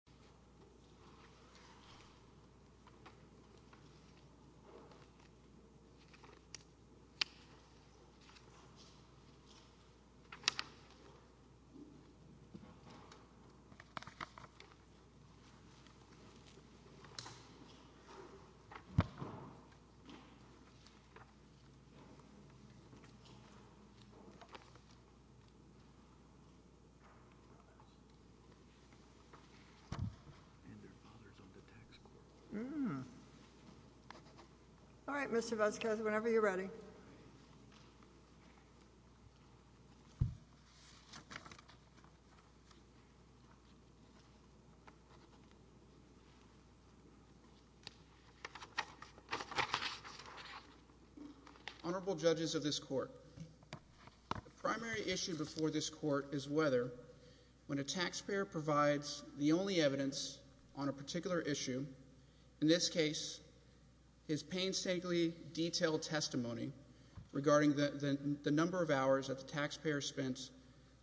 The Division of Civil Engineering Honorable Judges of this court, the primary issue before this court is whether, when a particular issue, in this case, his painstakingly detailed testimony regarding the number of hours that the taxpayer spent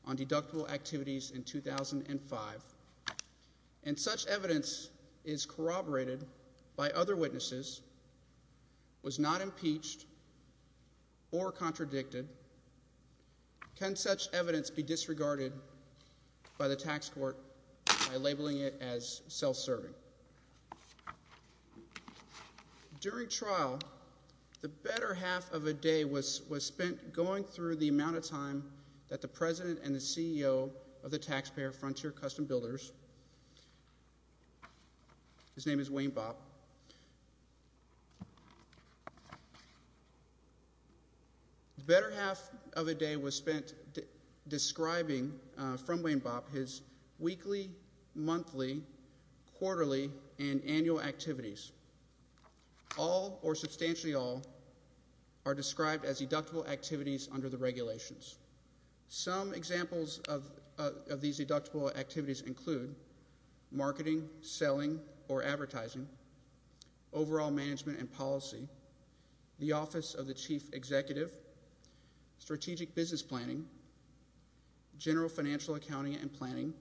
on deductible activities in 2005, and such evidence is corroborated by other witnesses, was not impeached or contradicted, can such evidence be disregarded by the tax court by labeling it as self-serving? During trial, the better half of a day was spent going through the amount of time that the President and the CEO of the Taxpayer Frontier Custom Builders, his name is Wayne Bopp, the better half of a day was spent describing from Wayne Bopp his weekly, monthly, quarterly, and annual activities. All, or substantially all, are described as deductible activities under the regulations. Some examples of these deductible activities include marketing, selling, or advertising, overall management and policy, the office of the chief executive, strategic business planning, general financial accounting and planning,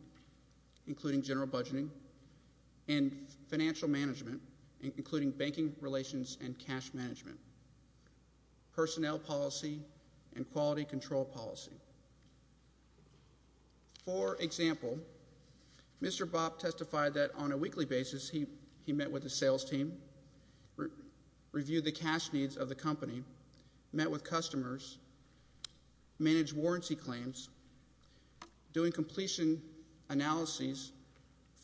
including general budgeting, and financial management, including banking relations and cash management, personnel policy, and quality control policy. For example, Mr. Bopp and his sales team reviewed the cash needs of the company, met with customers, managed warranty claims, doing completion analyses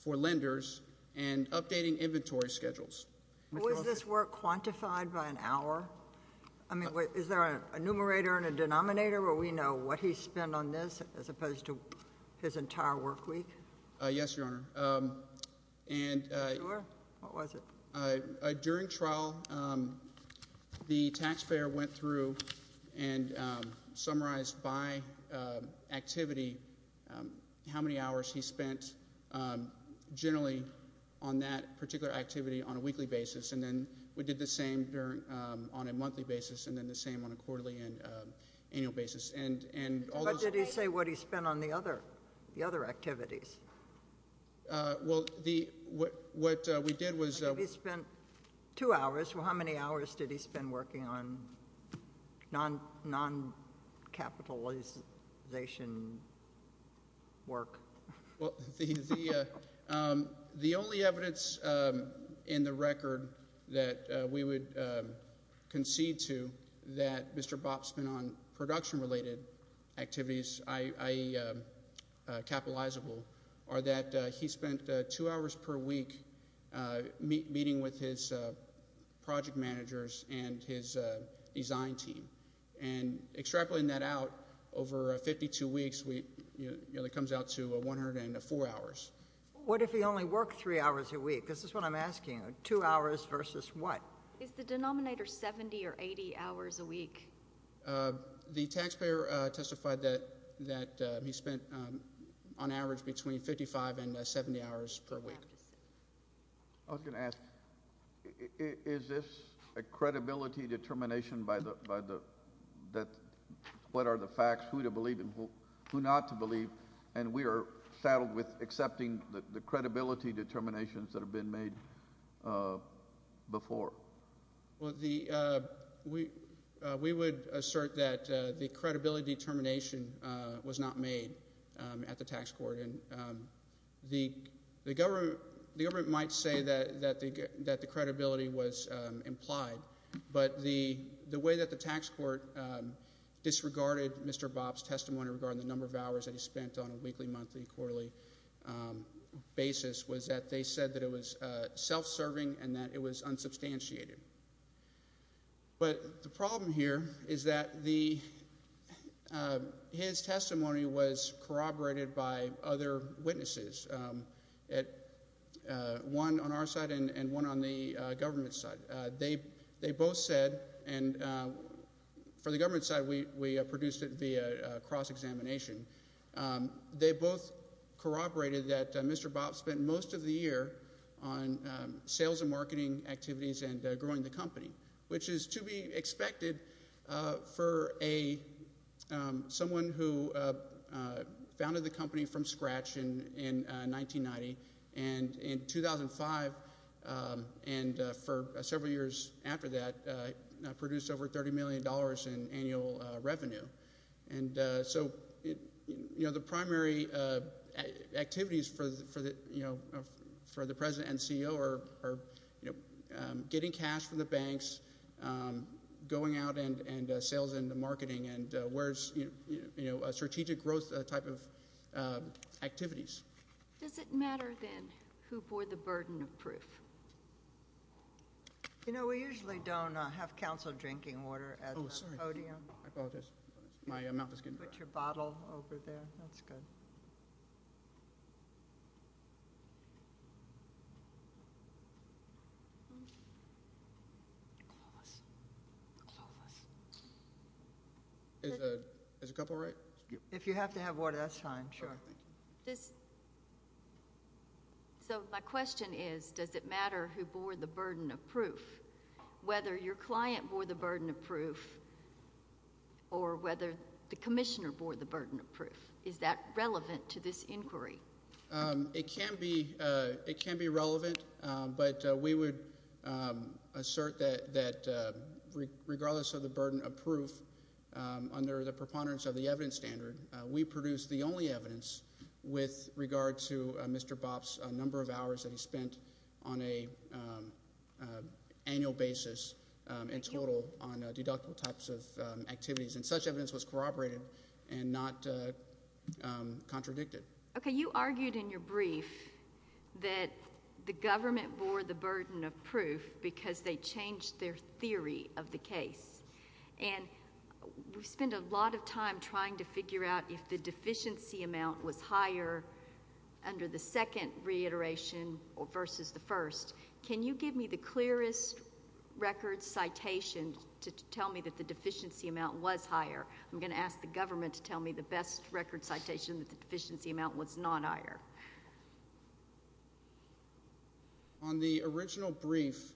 for lenders, and updating inventory schedules. Was this work quantified by an hour? I mean, is there a numerator and a denominator where we know what he spent on this as opposed to his entire work week? Yes, Your Honor, and during trial, the taxpayer went through and summarized by activity how many hours he spent generally on that particular activity on a weekly basis, and then we did the same on a monthly basis, and then the same on a quarterly and annual basis. And what did he say what he spent on the other activities? Well, what we did was... He spent two hours. Well, how many hours did he spend working on non-capitalization work? Well, the only evidence in the record that we would concede to that Mr. Bopp spent on production-related activities, i.e., capitalizable, are that he spent two hours per week meeting with his project managers and his design team, and extrapolating that out, over 52 weeks, it comes out to 104 hours. What if he only worked three hours a week? This is what I'm asking. Two hours versus what? Is the denominator 70 or 80 hours a week? The taxpayer testified that he spent on average between 55 and 70 hours per week. I was going to ask, is this a credibility determination by the... What are the facts, who to believe and who not to believe, and we are saddled with accepting the credibility determinations that have been made before? Well, we would assert that the credibility determination was not made at the tax court. And the government might say that the credibility was implied, but the way that the tax court disregarded Mr. Bopp's testimony regarding the number of hours that he spent on a weekly, monthly, quarterly basis was that they said that it was self-serving and that it was unsubstantiated. But the problem here is that the... His testimony was corroborated by other witnesses, one on our side and one on the government's side. They both said, and for the government's side, we produced it via cross-examination. They both corroborated that Mr. Bopp spent most of the year on sales and marketing activities and growing the company, which is to be expected for someone who founded the company from scratch in 1990 and in 2005 and for several years after that produced over $30 million in annual revenue. And so the primary activities for the president and CEO are getting cash from the banks, going out and sales and marketing and where's strategic growth type of activities. Does it matter, then, who bore the burden of proof? You know, we usually don't have counsel drinking water at the podium. Oh, sorry. I apologize. My mouth is getting dry. Put your bottle over there. That's good. Clueless. Clueless. Is a couple right? If you have to have water, that's fine. Sure. So my question is, does it matter who bore the burden of proof, whether your client bore the burden of proof or whether the commissioner bore the burden of proof? Is that relevant to this inquiry? It can be relevant, but we would assert that regardless of the burden of proof, under the preponderance of the evidence standard, we produce the only evidence with regard to Mr. Bopp's number of hours that he spent on an annual basis in total on deductible types of activities. And such evidence was corroborated and not contradicted. Okay. You argued in your brief that the government bore the burden of proof because they changed their theory of the case. And we spend a lot of time trying to figure out if the deficiency amount was higher under the second reiteration versus the first. Can you give me the clearest record citation to tell me that the deficiency amount was higher? I'm going to ask the government to tell me the best record citation that the deficiency amount was not higher. On the original brief,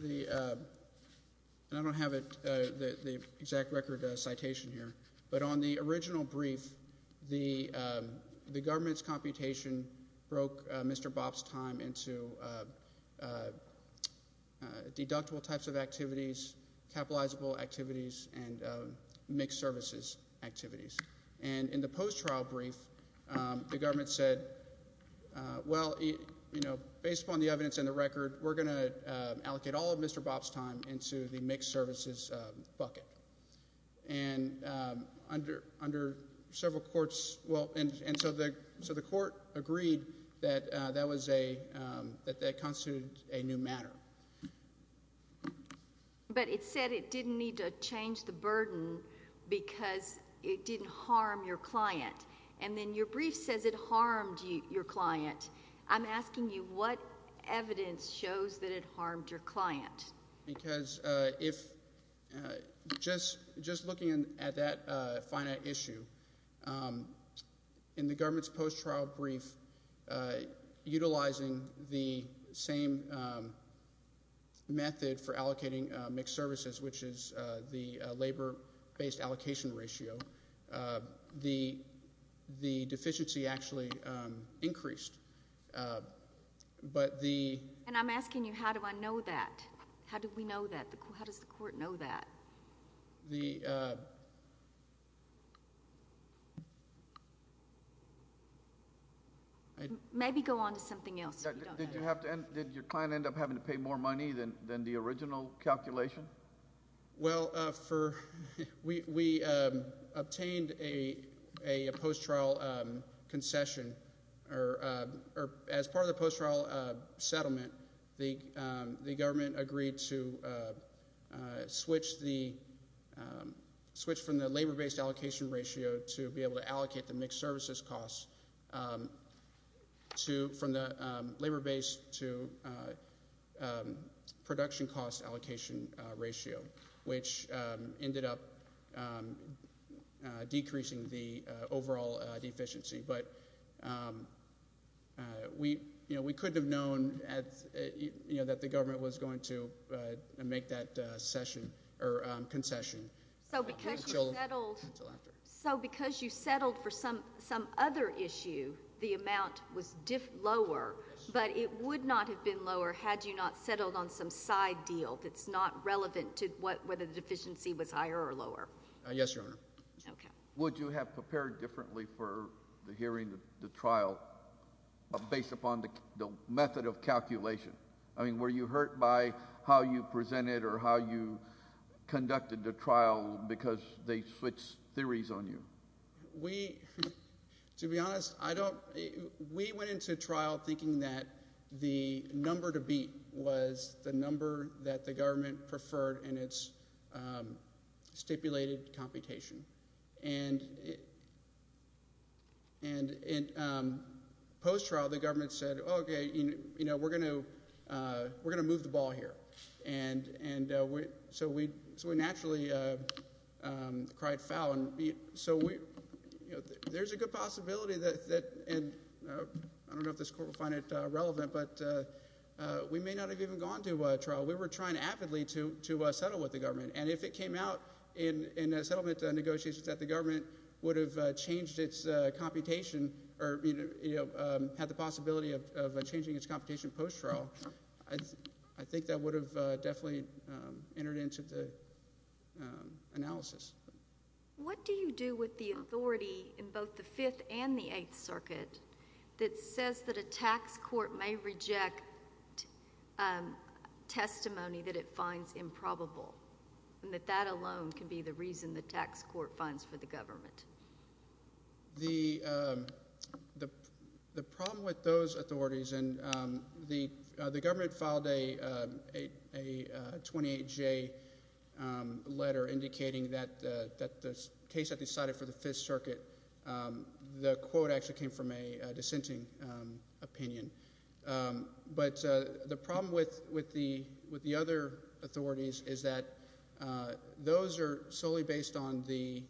I don't have the exact record citation here, but on the original brief, the government's computation broke Mr. Bopp's time into deductible types of activities, capitalizable activities, and mixed services activities. And in the post-trial brief, the government said, well, you know, based upon the evidence and the record, we're going to allocate all of Mr. Bopp's time into the mixed services bucket. And under several courts, well, and so the court agreed that that was a, that that constituted a new matter. But it said it didn't need to change the burden because it didn't harm your client. And then your brief says it harmed your client. I'm asking you what evidence shows that it harmed your client? Because if, just looking at that finite issue, in the government's post-trial brief, utilizing the same method for allocating mixed services, which is the labor-based allocation ratio, the deficiency actually increased. But the... And I'm asking you, how do I know that? How do we know that? How does the court know that? Maybe go on to something else. Did your client end up having to pay more money than the original calculation? Well, for, we obtained a post-trial concession, or as part of the post-trial settlement, the government agreed to switch the, switch from the labor-based allocation ratio to be able to which ended up decreasing the overall deficiency. But we, you know, we couldn't have known at, you know, that the government was going to make that session or concession. So because you settled for some other issue, the amount was lower, but it would not have been had you not settled on some side deal that's not relevant to whether the deficiency was higher or lower. Yes, Your Honor. Okay. Would you have prepared differently for the hearing of the trial based upon the method of calculation? I mean, were you hurt by how you presented or how you conducted the trial because they switched theories on you? We, to be honest, I don't, we went into trial thinking that the number to beat was the number that the government preferred in its stipulated computation. And in post-trial, the government said, okay, you know, we're going to, we're going to move the ball here. And so we naturally cried foul. And so we, you know, there's a good possibility that, and I don't know if this Court will find it relevant, but we may not have even gone to trial. We were trying avidly to settle with the government. And if it came out in settlement negotiations that the government would have changed its computation or, you know, had the possibility of changing its analysis. What do you do with the authority in both the Fifth and the Eighth Circuit that says that a tax court may reject testimony that it finds improbable, and that that alone can be the reason the tax court fines for the government? The problem with those authorities, and the government filed a 28-J letter indicating that the case that they cited for the Fifth Circuit, the quote actually came from a dissenting opinion. But the problem with the other authorities is that those are solely based on the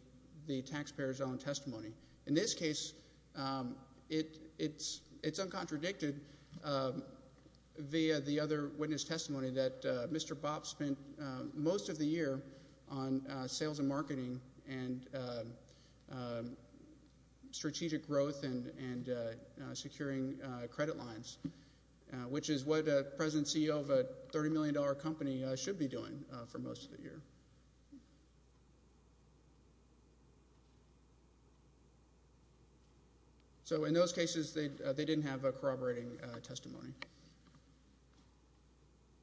taxpayer's own testimony. In this case, it's uncontradicted via the other witness testimony that Mr. Bopp spent most of the year on sales and marketing and strategic growth and securing credit lines, which is what a present CEO of a $30 million company should be doing for most of the year. So in those cases, they didn't have corroborating testimony.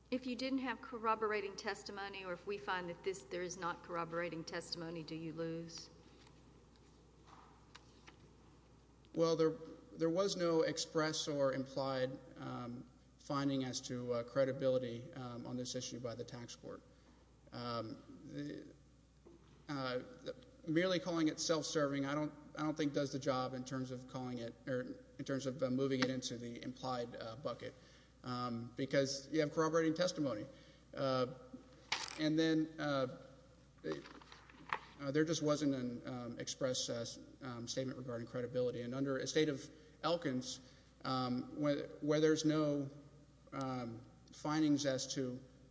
If you didn't have corroborating testimony or if we find that there is not corroborating testimony, do you lose? Well, there was no express or implied finding as to credibility on this issue by the tax court. Merely calling it self-serving I don't think does the job in terms of moving it into the implied bucket, because you have corroborating testimony. And then there just wasn't an express statement regarding credibility. And under a state of Elkins, where there's no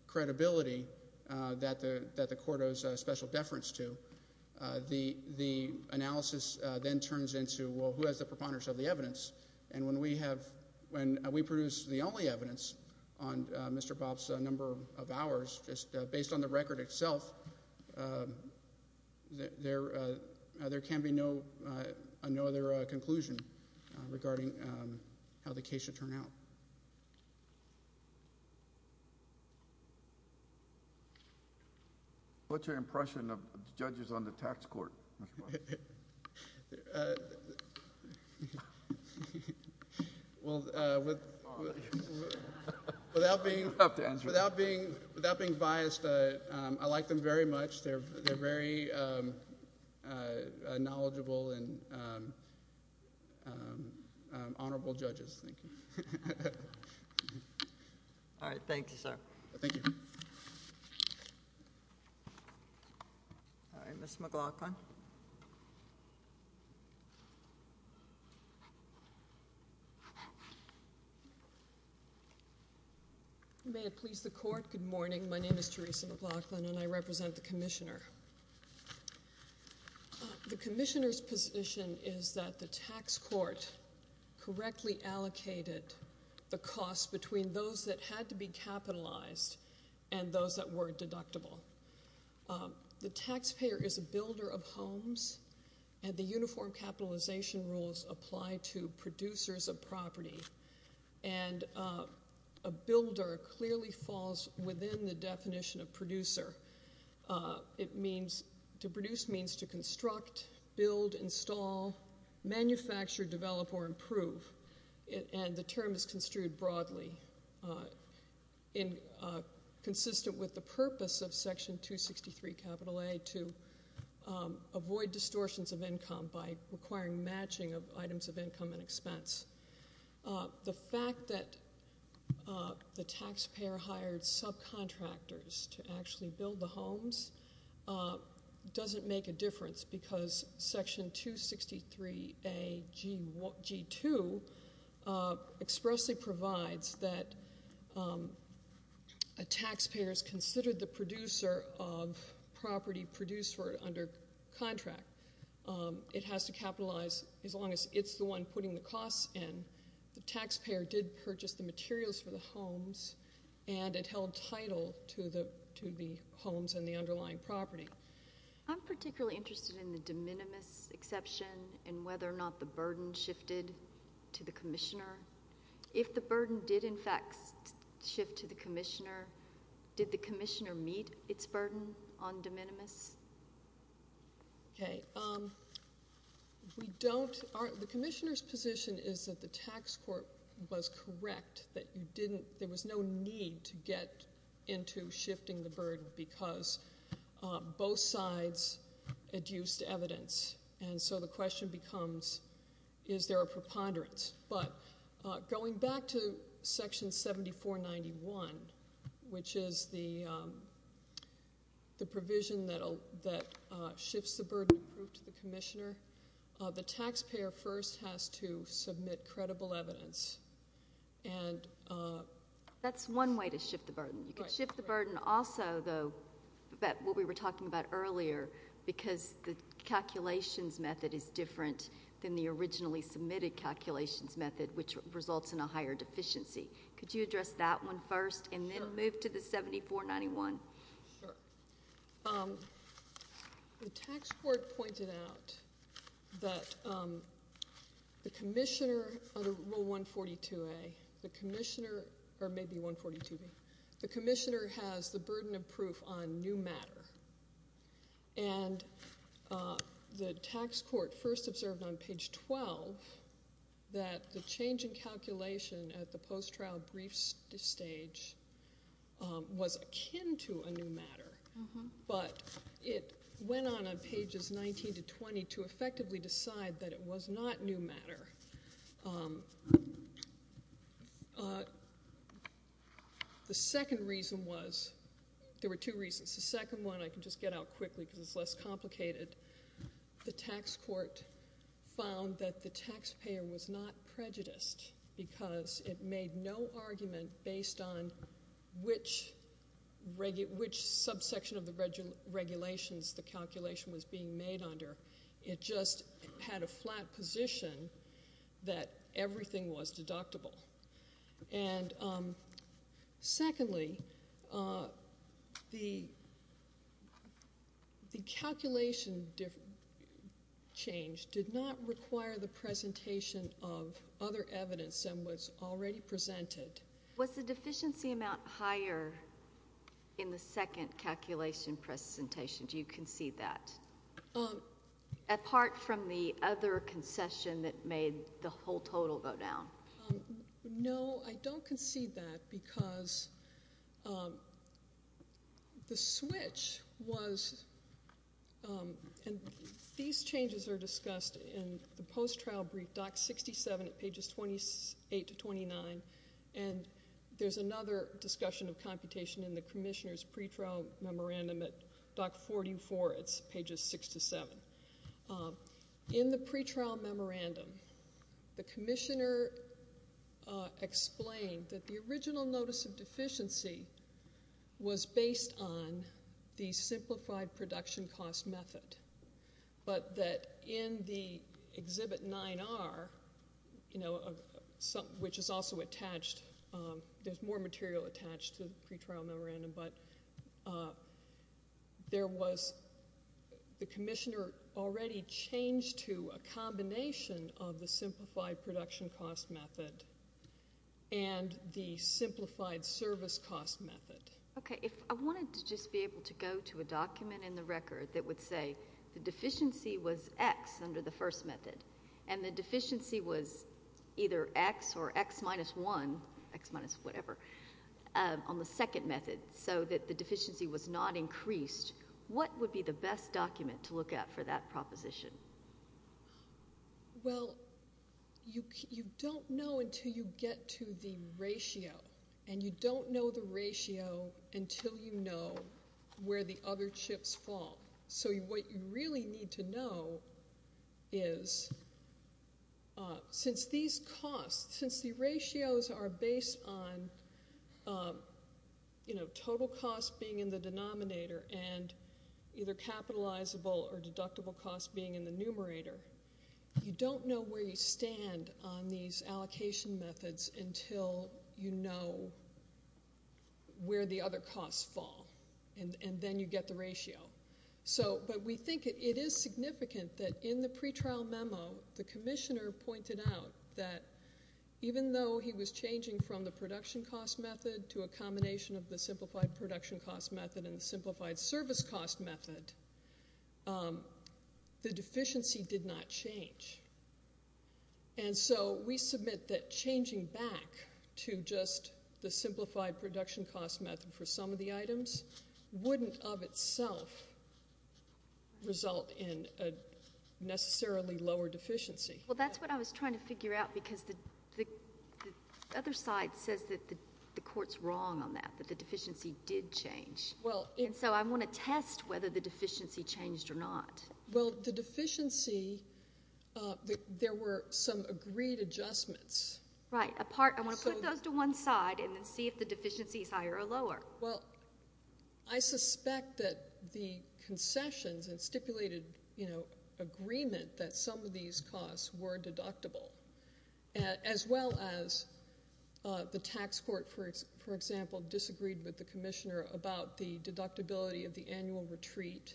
credibility that the court owes a special deference to, the analysis then turns into, well, who has the preponderance of the evidence? And when we produce the only evidence on Mr. Bopp's number of hours just based on the record itself, there can be no other conclusion regarding how the case should turn out. What's your impression of the judges on the tax court, Mr. Bopp? Well, without being biased, I like them very much. They're very knowledgeable and honorable judges. Thank you. All right. Thank you, sir. Thank you. All right. Ms. McLaughlin. May it please the court. Good morning. My name is Teresa McLaughlin, and I represent the commissioner. The commissioner's position is that the tax court correctly allocated the cost between those that had to be capitalized and those that were deductible. The taxpayer is a builder of homes, and the uniform capitalization rules apply to producers of property. And a builder clearly falls within the definition of producer. To produce means to construct, build, install, manufacture, develop, or improve, and the term is construed broadly, consistent with the purpose of Section 263, capital A, to avoid distortions of income by requiring matching of items of income and expense. The fact that the taxpayer hired subcontractors to actually build the homes doesn't make a difference, because Section 263AG2 expressly provides that a taxpayer is considered the producer of property produced for under contract. It has to capitalize as long as it's the one putting the costs in. The taxpayer did purchase the materials for the homes, and it held title to the homes and the underlying property. I'm particularly interested in the de minimis exception and whether or not the burden shifted to the commissioner. If the burden did, in fact, shift to the commissioner, did the commissioner meet its burden on de minimis? Okay. We don't. The commissioner's position is that the tax court was correct, that you didn't, there was no need to get into shifting the burden because both sides adduced evidence. And so the question becomes, is there a preponderance? But going back to Section 7491, which is the provision that shifts the burden approved to the commissioner, the taxpayer first has to submit credible evidence. That's one way to shift the burden. You can shift the burden also, though, what we were talking about earlier, because the calculations method is different than the originally submitted calculations method, which results in a higher deficiency. Could you address that one first and then move to the 7491? Sure. The tax court pointed out that the commissioner under Rule 142A, the commissioner, or maybe 142A, the commissioner has the burden of proof on new matter. And the tax court first observed on page 12 that the change in calculation at the post-trial brief stage was akin to a new matter. But it went on on pages 19 to 20 to effectively decide that it was not new matter. The second reason was, there were two reasons. The second one, I can just get out quickly because it's less complicated. The tax court found that the taxpayer was not prejudiced because it made no argument based on which subsection of the regulations the calculation was being made under. It just had a flat position that presentation of other evidence that was already presented. Was the deficiency amount higher in the second calculation presentation? Do you concede that? Apart from the other concession that made the whole total go down? No, I don't concede that because the switch was, and these changes are discussed in the post-trial brief, Doc 67 at pages 28 to 29. And there's another discussion of computation in the commissioner's pre-trial memorandum at Doc 44, it's pages 6 to 7. In the pre-trial memorandum, the commissioner explained that original notice of deficiency was based on the simplified production cost method. But that in the exhibit 9R, which is also attached, there's more material attached to the pre-trial memorandum, but there was, the commissioner already changed to a combination of the simplified production cost method and the simplified service cost method. Okay, if I wanted to just be able to go to a document in the record that would say the deficiency was X under the first method and the deficiency was either X or X minus 1, X minus whatever, on the second method, so that the deficiency was not increased, what would be the best document to look at for that proposition? Well, you don't know until you get to the ratio, and you don't know the ratio until you know where the other chips fall. So what you really need to know is, since these costs, since the ratios are based on, you know, total cost being in the denominator and either capitalizable or deductible cost being in the numerator, you don't know where you stand on these allocation methods until you know where the other costs fall and then you get the ratio. So, but we think it is significant that in the pre-trial memo, the commissioner pointed out that even though he was changing from the production cost method to a combination of the simplified production cost method and the simplified service cost method, the deficiency did not change. And so we submit that changing back to just the simplified production cost method for some of the items wouldn't, of itself, result in a necessarily lower deficiency. Well, that's what I was trying to figure out, because the other side says that the court's wrong on that, that the deficiency did change. And so I want to test whether the deficiency changed or not. Well, the deficiency, there were some agreed adjustments. Right. I want to put those to one side and then see if the deficiency is higher or lower. Well, I suspect that the concessions and stipulated, you know, agreement that some of these costs were deductible, as well as the tax court, for example, disagreed with the commissioner about the deductibility of the annual retreat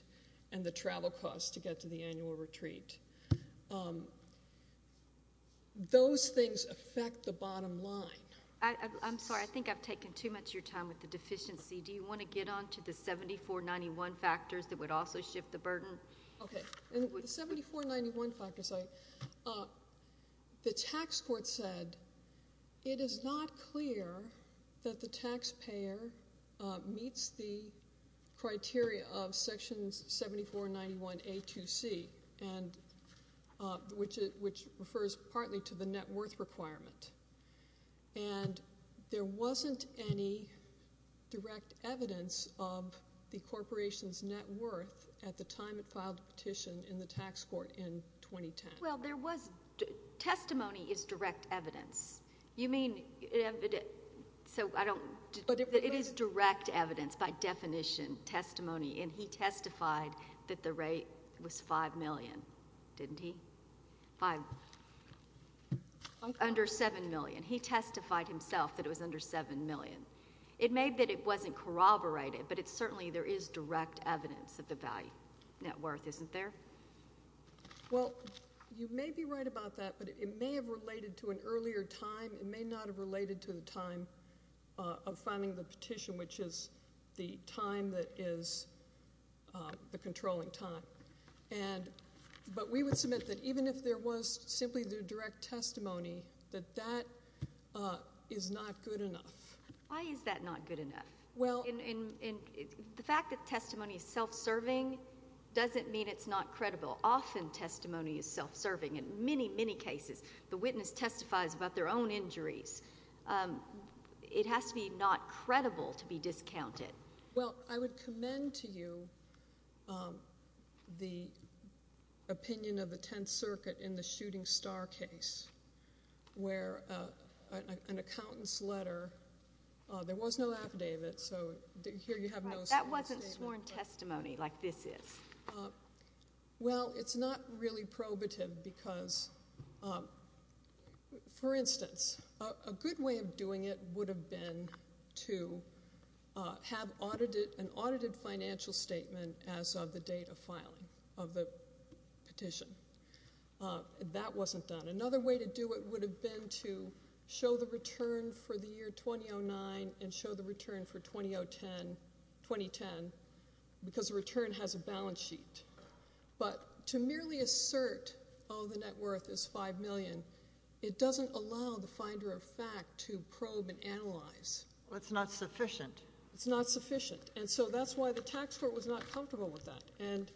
and the travel costs to get to the annual retreat. Those things affect the bottom line. I'm sorry. I think I've taken too much of your time with the deficiency. Do you want to get on to the 7491 factors that would also shift the burden? Okay. In the 7491 factors, the tax court said, it is not clear that the taxpayer meets the criteria of sections 7491A-2C, which refers partly to the net worth requirement. And there wasn't any direct evidence of the corporation's net worth at the time it filed the petition in the tax court in 2010. Well, there was—testimony is direct evidence. You mean—so I don't—it is direct evidence, by definition, testimony. And he testified that the rate was $5 million, didn't he? Under $7 million. He testified himself that it was under $7 million. It may be that it wasn't corroborated, but it's certainly—there is direct evidence of the value—net worth, isn't there? Well, you may be right about that, but it may have related to an earlier time. It may not have related to the time of filing the petition, which is the time that is the controlling time. And—but we would submit that even if there was simply the direct testimony, that that is not good enough. Why is that not good enough? Well— The fact that testimony is self-serving doesn't mean it's not credible. Often testimony is self-serving. In many, many cases, the witness testifies about their own injuries. It has to be not credible to be discounted. Well, I would commend to you the opinion of the Tenth Circuit in the Shooting Star case, where an accountant's letter—there was no affidavit, so here you have no— That wasn't sworn testimony like this is. Well, it's not really probative because, for instance, a good way of doing it would have been to have audited—an audited financial statement as of the date of filing of the petition. That wasn't done. Another way to do it would have been to show the return for the year 2009 and show the return for 2010, because the return has a balance sheet. But to merely assert, oh, the net worth is $5 million, it doesn't allow the finder of fact to probe and analyze. Well, it's not sufficient. It's not sufficient. And so that's why the tax court was not comfortable with that. And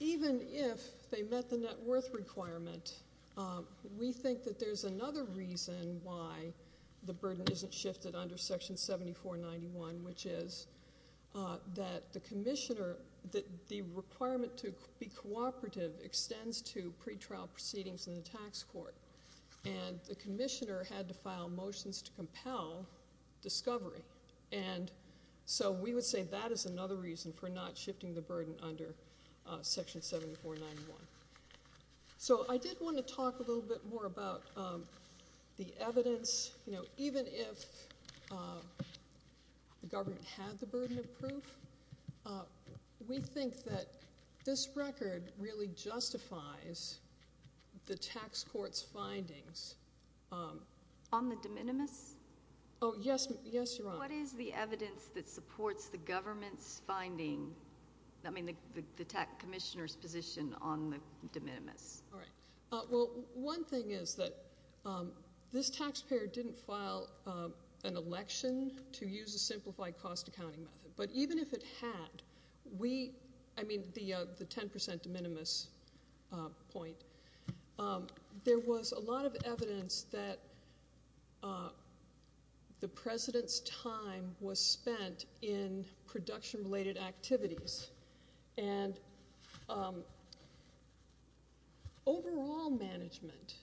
even if they met the net worth requirement, we think that there's another reason why the burden isn't shifted under Section 7491, which is that the commissioner—the requirement to be cooperative extends to pretrial proceedings in the tax court. And the commissioner had to file motions to compel discovery. And so we would say that is another reason for not shifting the burden under Section 7491. So I did want to talk a little bit more about the evidence. You know, even if the government had the burden of proof, we think that this record really justifies the tax court's findings. On the de minimis? Oh, yes. Yes, Your Honor. What is the evidence that supports the government's position on the de minimis? All right. Well, one thing is that this taxpayer didn't file an election to use a simplified cost accounting method. But even if it had, we—I mean, the 10 percent de minimis point, there was a lot of evidence that the president's time was spent in production-related activities. And overall management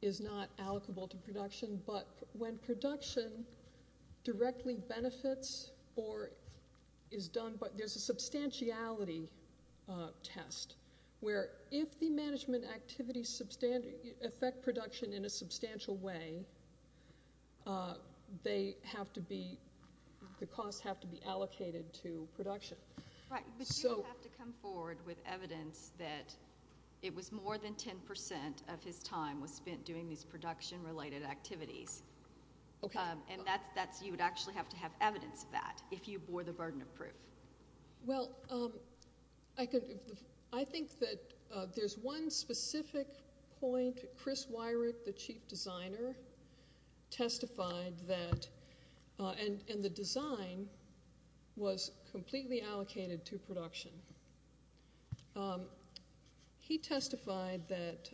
is not allocable to production. But when production directly benefits or is done—but there's a substantiality test where if the management activities affect production in a substantial way, the costs have to be allocated to production. Right. But you have to come forward with evidence that it was more than 10 percent of his time was spent doing these production-related activities. And you would actually have to have evidence of that if you bore the burden of proof. Well, I think that there's one specific point. Chris Weirich, the chief designer, testified that—and the design was completely allocated to production. He testified that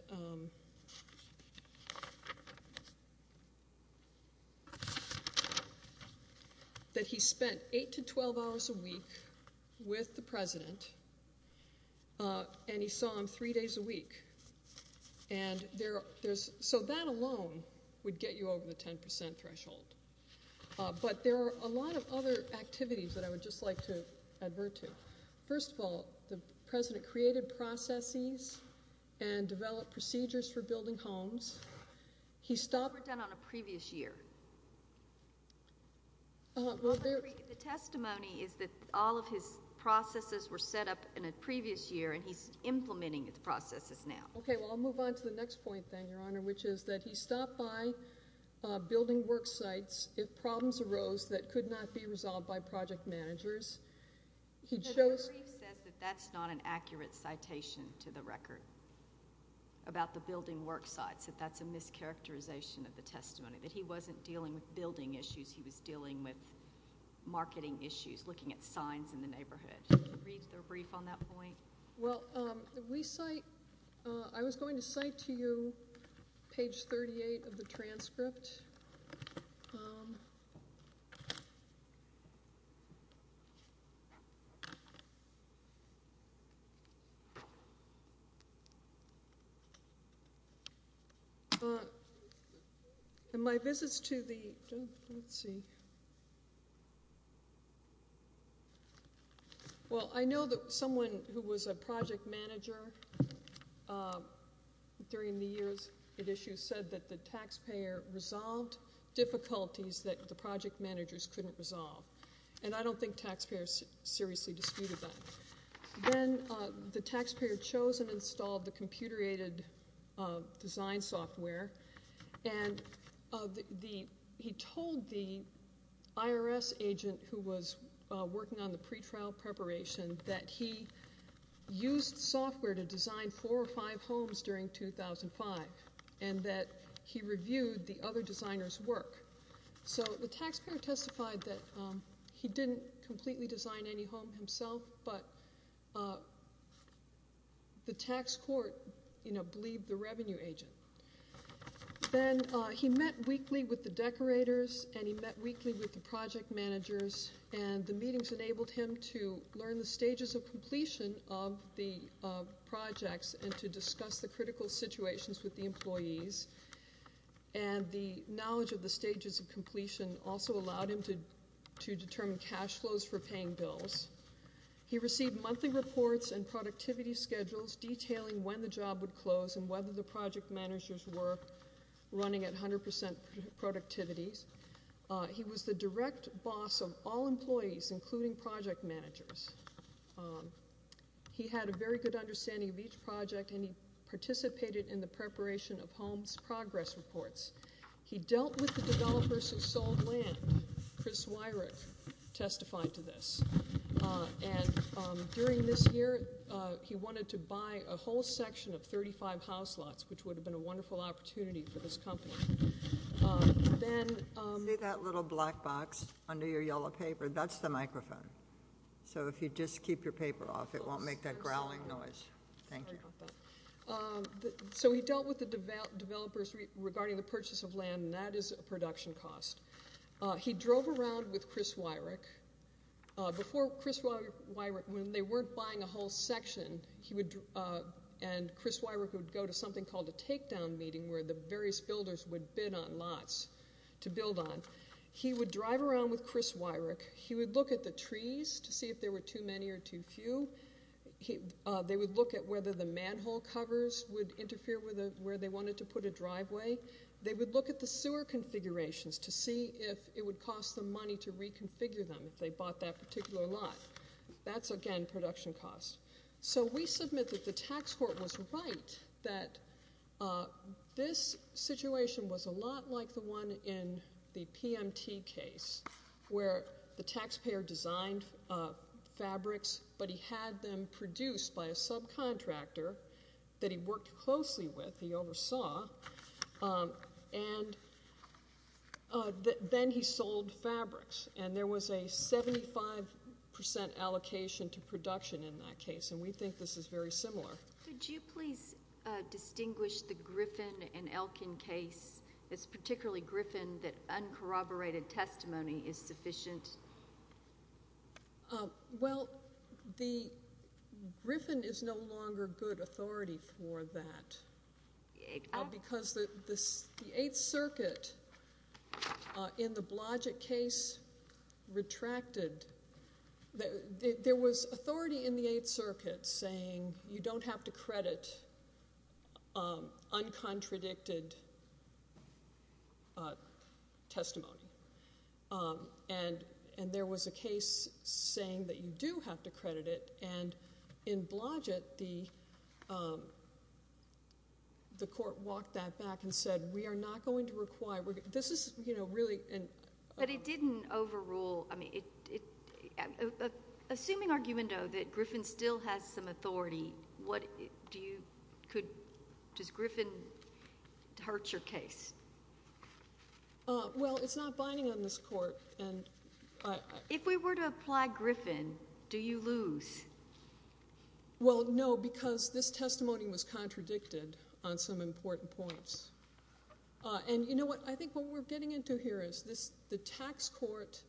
he spent 8 to 12 hours a week with the president, and he saw him three days a week. And there's—so that alone would get you over the 10 percent threshold. But there are a lot of other activities that I would just like to advert to. First of all, the president created processes and developed procedures for building homes. He stopped— They were done on a previous year. The testimony is that all of his processes were set up in a previous year, and he's implementing the processes now. Okay. Well, I'll move on to the next point then, Your Honor, which is that he stopped by building worksites if problems arose that could not be resolved by project managers. He chose— That's not an accurate citation to the record about the building worksites, that that's a mischaracterization of the testimony, that he wasn't dealing with building issues. He was dealing with marketing issues, looking at signs in the neighborhood. Read the brief on that point. Well, we cite—I was going to cite to you page 38 of the transcript. My visits to the—let's see. Well, I know that someone who was a project manager during the years at issue said that the taxpayer resolved difficulties that the project managers couldn't resolve, and I don't think taxpayers seriously disputed that. Then the taxpayer chose and installed the computer-aided design software, and he told the IRS agent who was working on the pretrial preparation that he used software to design four or five homes during 2005, and that he reviewed the other designer's work. So the taxpayer testified that he didn't completely design any home himself, but the tax court, you know, believed the revenue agent. Then he met weekly with the decorators, and he met weekly with the project managers, and the meetings enabled him to learn the stages of completion of the projects and to discuss the critical situations with the employees, and the knowledge of the stages of completion also allowed him to determine cash flows for and productivity schedules detailing when the job would close and whether the project managers were running at 100 percent productivity. He was the direct boss of all employees, including project managers. He had a very good understanding of each project, and he participated in the preparation of homes progress reports. He dealt with the developers who sold he wanted to buy a whole section of 35 house lots, which would have been a wonderful opportunity for this company. Then... Give me that little black box under your yellow paper. That's the microphone. So if you just keep your paper off, it won't make that growling noise. Thank you. So he dealt with the developers regarding the purchase of land, and that is a production cost. He drove around with Chris Weirich. Before Chris Weirich... When they weren't buying a whole section, he would... And Chris Weirich would go to something called a takedown meeting where the various builders would bid on lots to build on. He would drive around with Chris Weirich. He would look at the trees to see if there were too many or too few. They would look at whether the manhole covers would interfere with where they wanted to put a driveway. They would look at the sewer configurations to see if it would cost them money to reconfigure them if they bought that particular lot. That's, again, production cost. So we submit that the tax court was right that this situation was a lot like the one in the PMT case where the taxpayer designed fabrics, but he had them produced by a subcontractor that he worked closely with. He oversaw. And then he sold fabrics, and there was a 75 percent allocation to production in that case, and we think this is very similar. Could you please distinguish the Griffin and Elkin case? It's particularly Griffin that uncorroborated that because the Eighth Circuit in the Blodgett case retracted. There was authority in the Eighth Circuit saying you don't have to credit uncontradicted testimony, and there was a case saying that you do have to credit it. And in Blodgett, the court walked that back and said, we are not going to require. This is, you know, really. But it didn't overrule. I mean, assuming argument, though, that Griffin still has some authority, what do you, could, does Griffin hurt your case? Well, it's not binding on this court. If we were to apply Griffin, do you lose? Well, no, because this testimony was contradicted on some important points. And you know what, I think what we're getting into here is this, the tax court,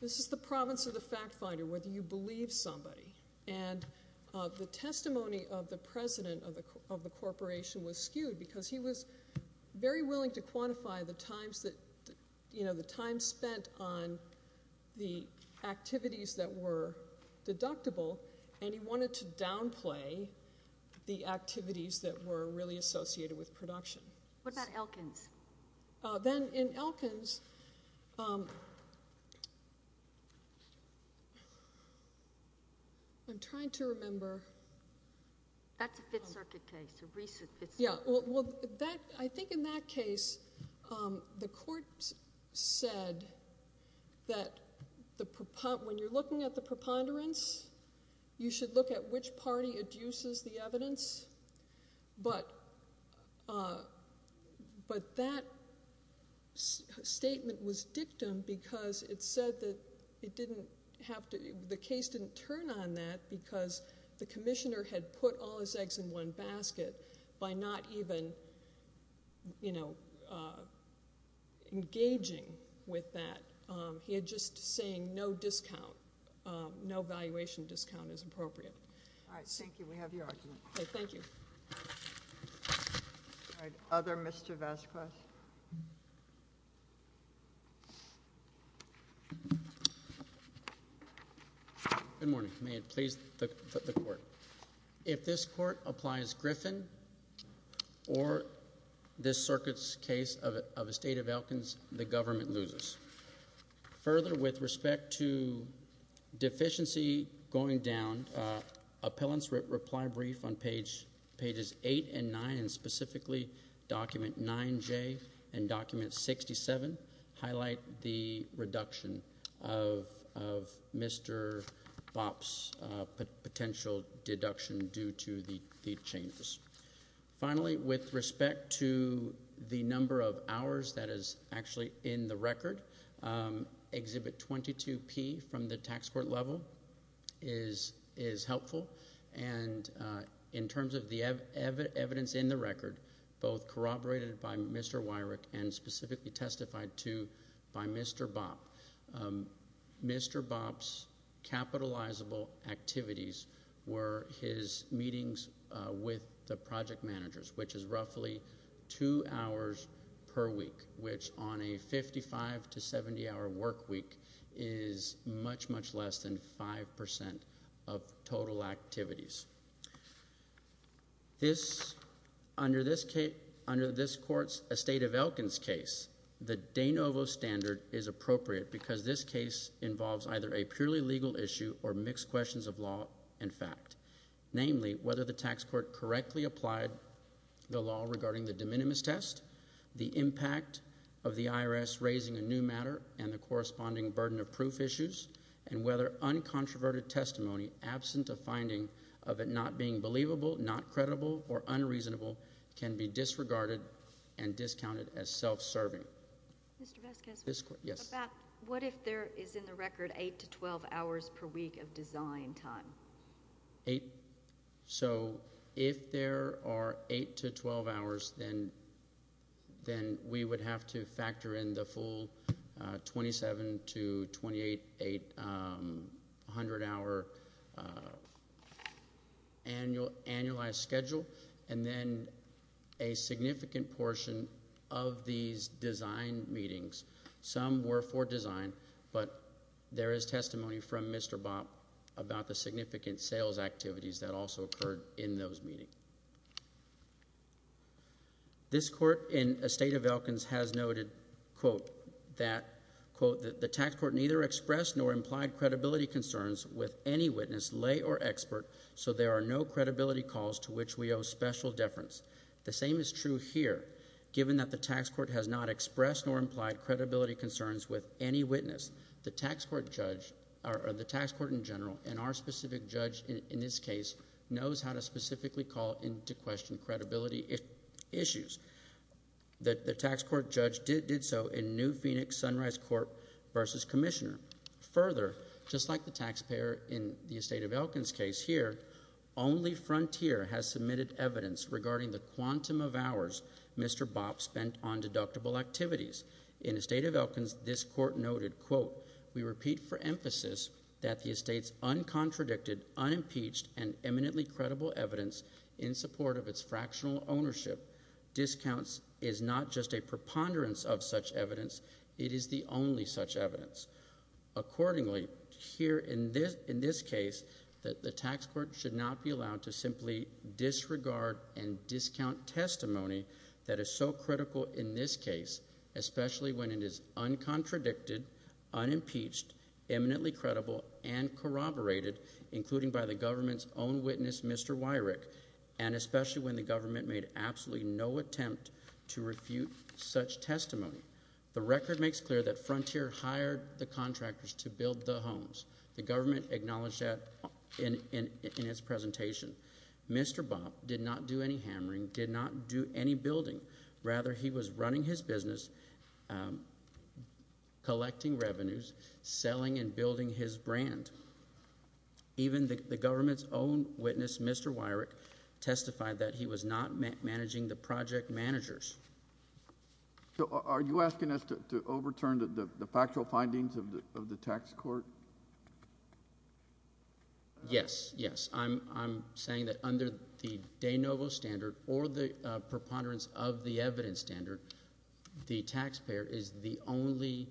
this is the province of the fact finder, whether you believe somebody. And the testimony of the president of the corporation was skewed because he was very willing to quantify the times that, you know, the time spent on the activities that were deductible, and he wanted to downplay the activities that were really associated with production. What about Elkins? Then in Elkins, I'm trying to remember. That's a Fifth Circuit case, a recent Fifth Circuit case. Well, I think in that case, the court said that when you're looking at the preponderance, you should look at which party adduces the evidence. But that statement was dictum because it said that it didn't have to, the case didn't turn on that because the commissioner had put all his eggs in one basket by not even, you know, engaging with that. He had just saying no discount, no valuation discount is appropriate. All right, thank you. We have your argument. Okay, thank you. All right, other Mr. Vazquez? Good morning. May it please the court. If this court applies Griffin or this circuit's case of a state of Elkins, the government loses. Further, with respect to deficiency going down, appellant's reply brief on pages eight and nine, specifically document 9J and document 67, highlight the reduction of Mr. Bopp's potential deduction due to the changes. Finally, with respect to the number of hours that is actually in the record, exhibit 22P from the tax court level is helpful. And in terms of the evidence in the record, both corroborated by Mr. Wyrick and specifically testified to by Mr. Bopp, Mr. Bopp's capitalizable activities were his meetings with the project managers, which is roughly two hours per week, which on a 55 to 70 hour work week is much, much less than 5% of total activities. This, under this case, under this court's, a state of Elkins case, the de novo standard is appropriate because this case involves either a purely legal issue or mixed questions of law and fact. Namely, whether the tax court correctly applied the law regarding the de minimis test, the impact of the IRS raising a new matter, and the corresponding burden of proof issues, and whether uncontroverted testimony, absent of finding of it not being believable, not credible, or unreasonable, can be disregarded and discounted as self-serving. Mr. Vasquez, what if there is in the record eight to 12 hours per week of design time? Eight, so if there are eight to 12 hours, then we would have to factor in the full 27 to 28, 800 hour annual annualized schedule, and then a significant portion of these design meetings, some were for design, but there is testimony from Mr. Bopp about the significant sales activities that also occurred in those meetings. This court in a state of Elkins has noted, quote, that, quote, that the tax court neither expressed nor implied credibility concerns with any witness, lay, or expert, so there are no credibility calls to which we owe special deference. The same is true here. Given that the tax court has not expressed nor implied credibility concerns with any witness, the tax court in general, and our specific judge in this case, knows how to specifically call into question credibility issues. The tax court judge did so in New Phoenix Sunrise Court versus Commissioner. Further, just like the taxpayer in the state of Elkins case here, only Frontier has submitted evidence regarding the quantum of hours Mr. Bopp spent on deductible activities. In the state of Elkins, this court noted, quote, we repeat for emphasis that the estate's uncontradicted, unimpeached, and eminently credible evidence in support of its fractional ownership discounts is not just a preponderance of such evidence, it is the only such evidence. Accordingly, here in this case, the tax court should not be allowed to simply disregard and discount testimony that is so critical in this case, especially when it is uncontradicted, unimpeached, eminently credible, and corroborated, including by the government's own witness, Mr. Weyrich, and especially when the government made absolutely no attempt to refute such testimony. The record makes clear that Frontier hired the contractors to build the homes. The government acknowledged that in its presentation. Mr. Bopp did not do any hammering, did not do any building. Rather, he was running his business, collecting revenues, selling and building his brand. Even the government's own witness, Mr. Weyrich, testified that he was not managing the project managers. So are you asking us to do that? Yes, yes. I'm saying that under the de novo standard or the preponderance of the evidence standard, the taxpayer is the only,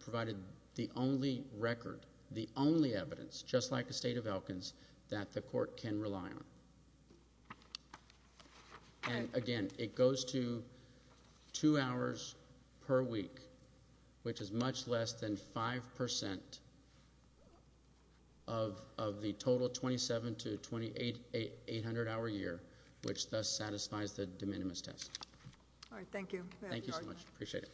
provided the only record, the only evidence, just like the state of Elkins, that the court can rely on. And again, it goes to two hours per week, which is much less than 5% of the total 27 to 28 800 hour year, which thus satisfies the de minimis test. All right. Thank you. Thank you so much. Appreciate it.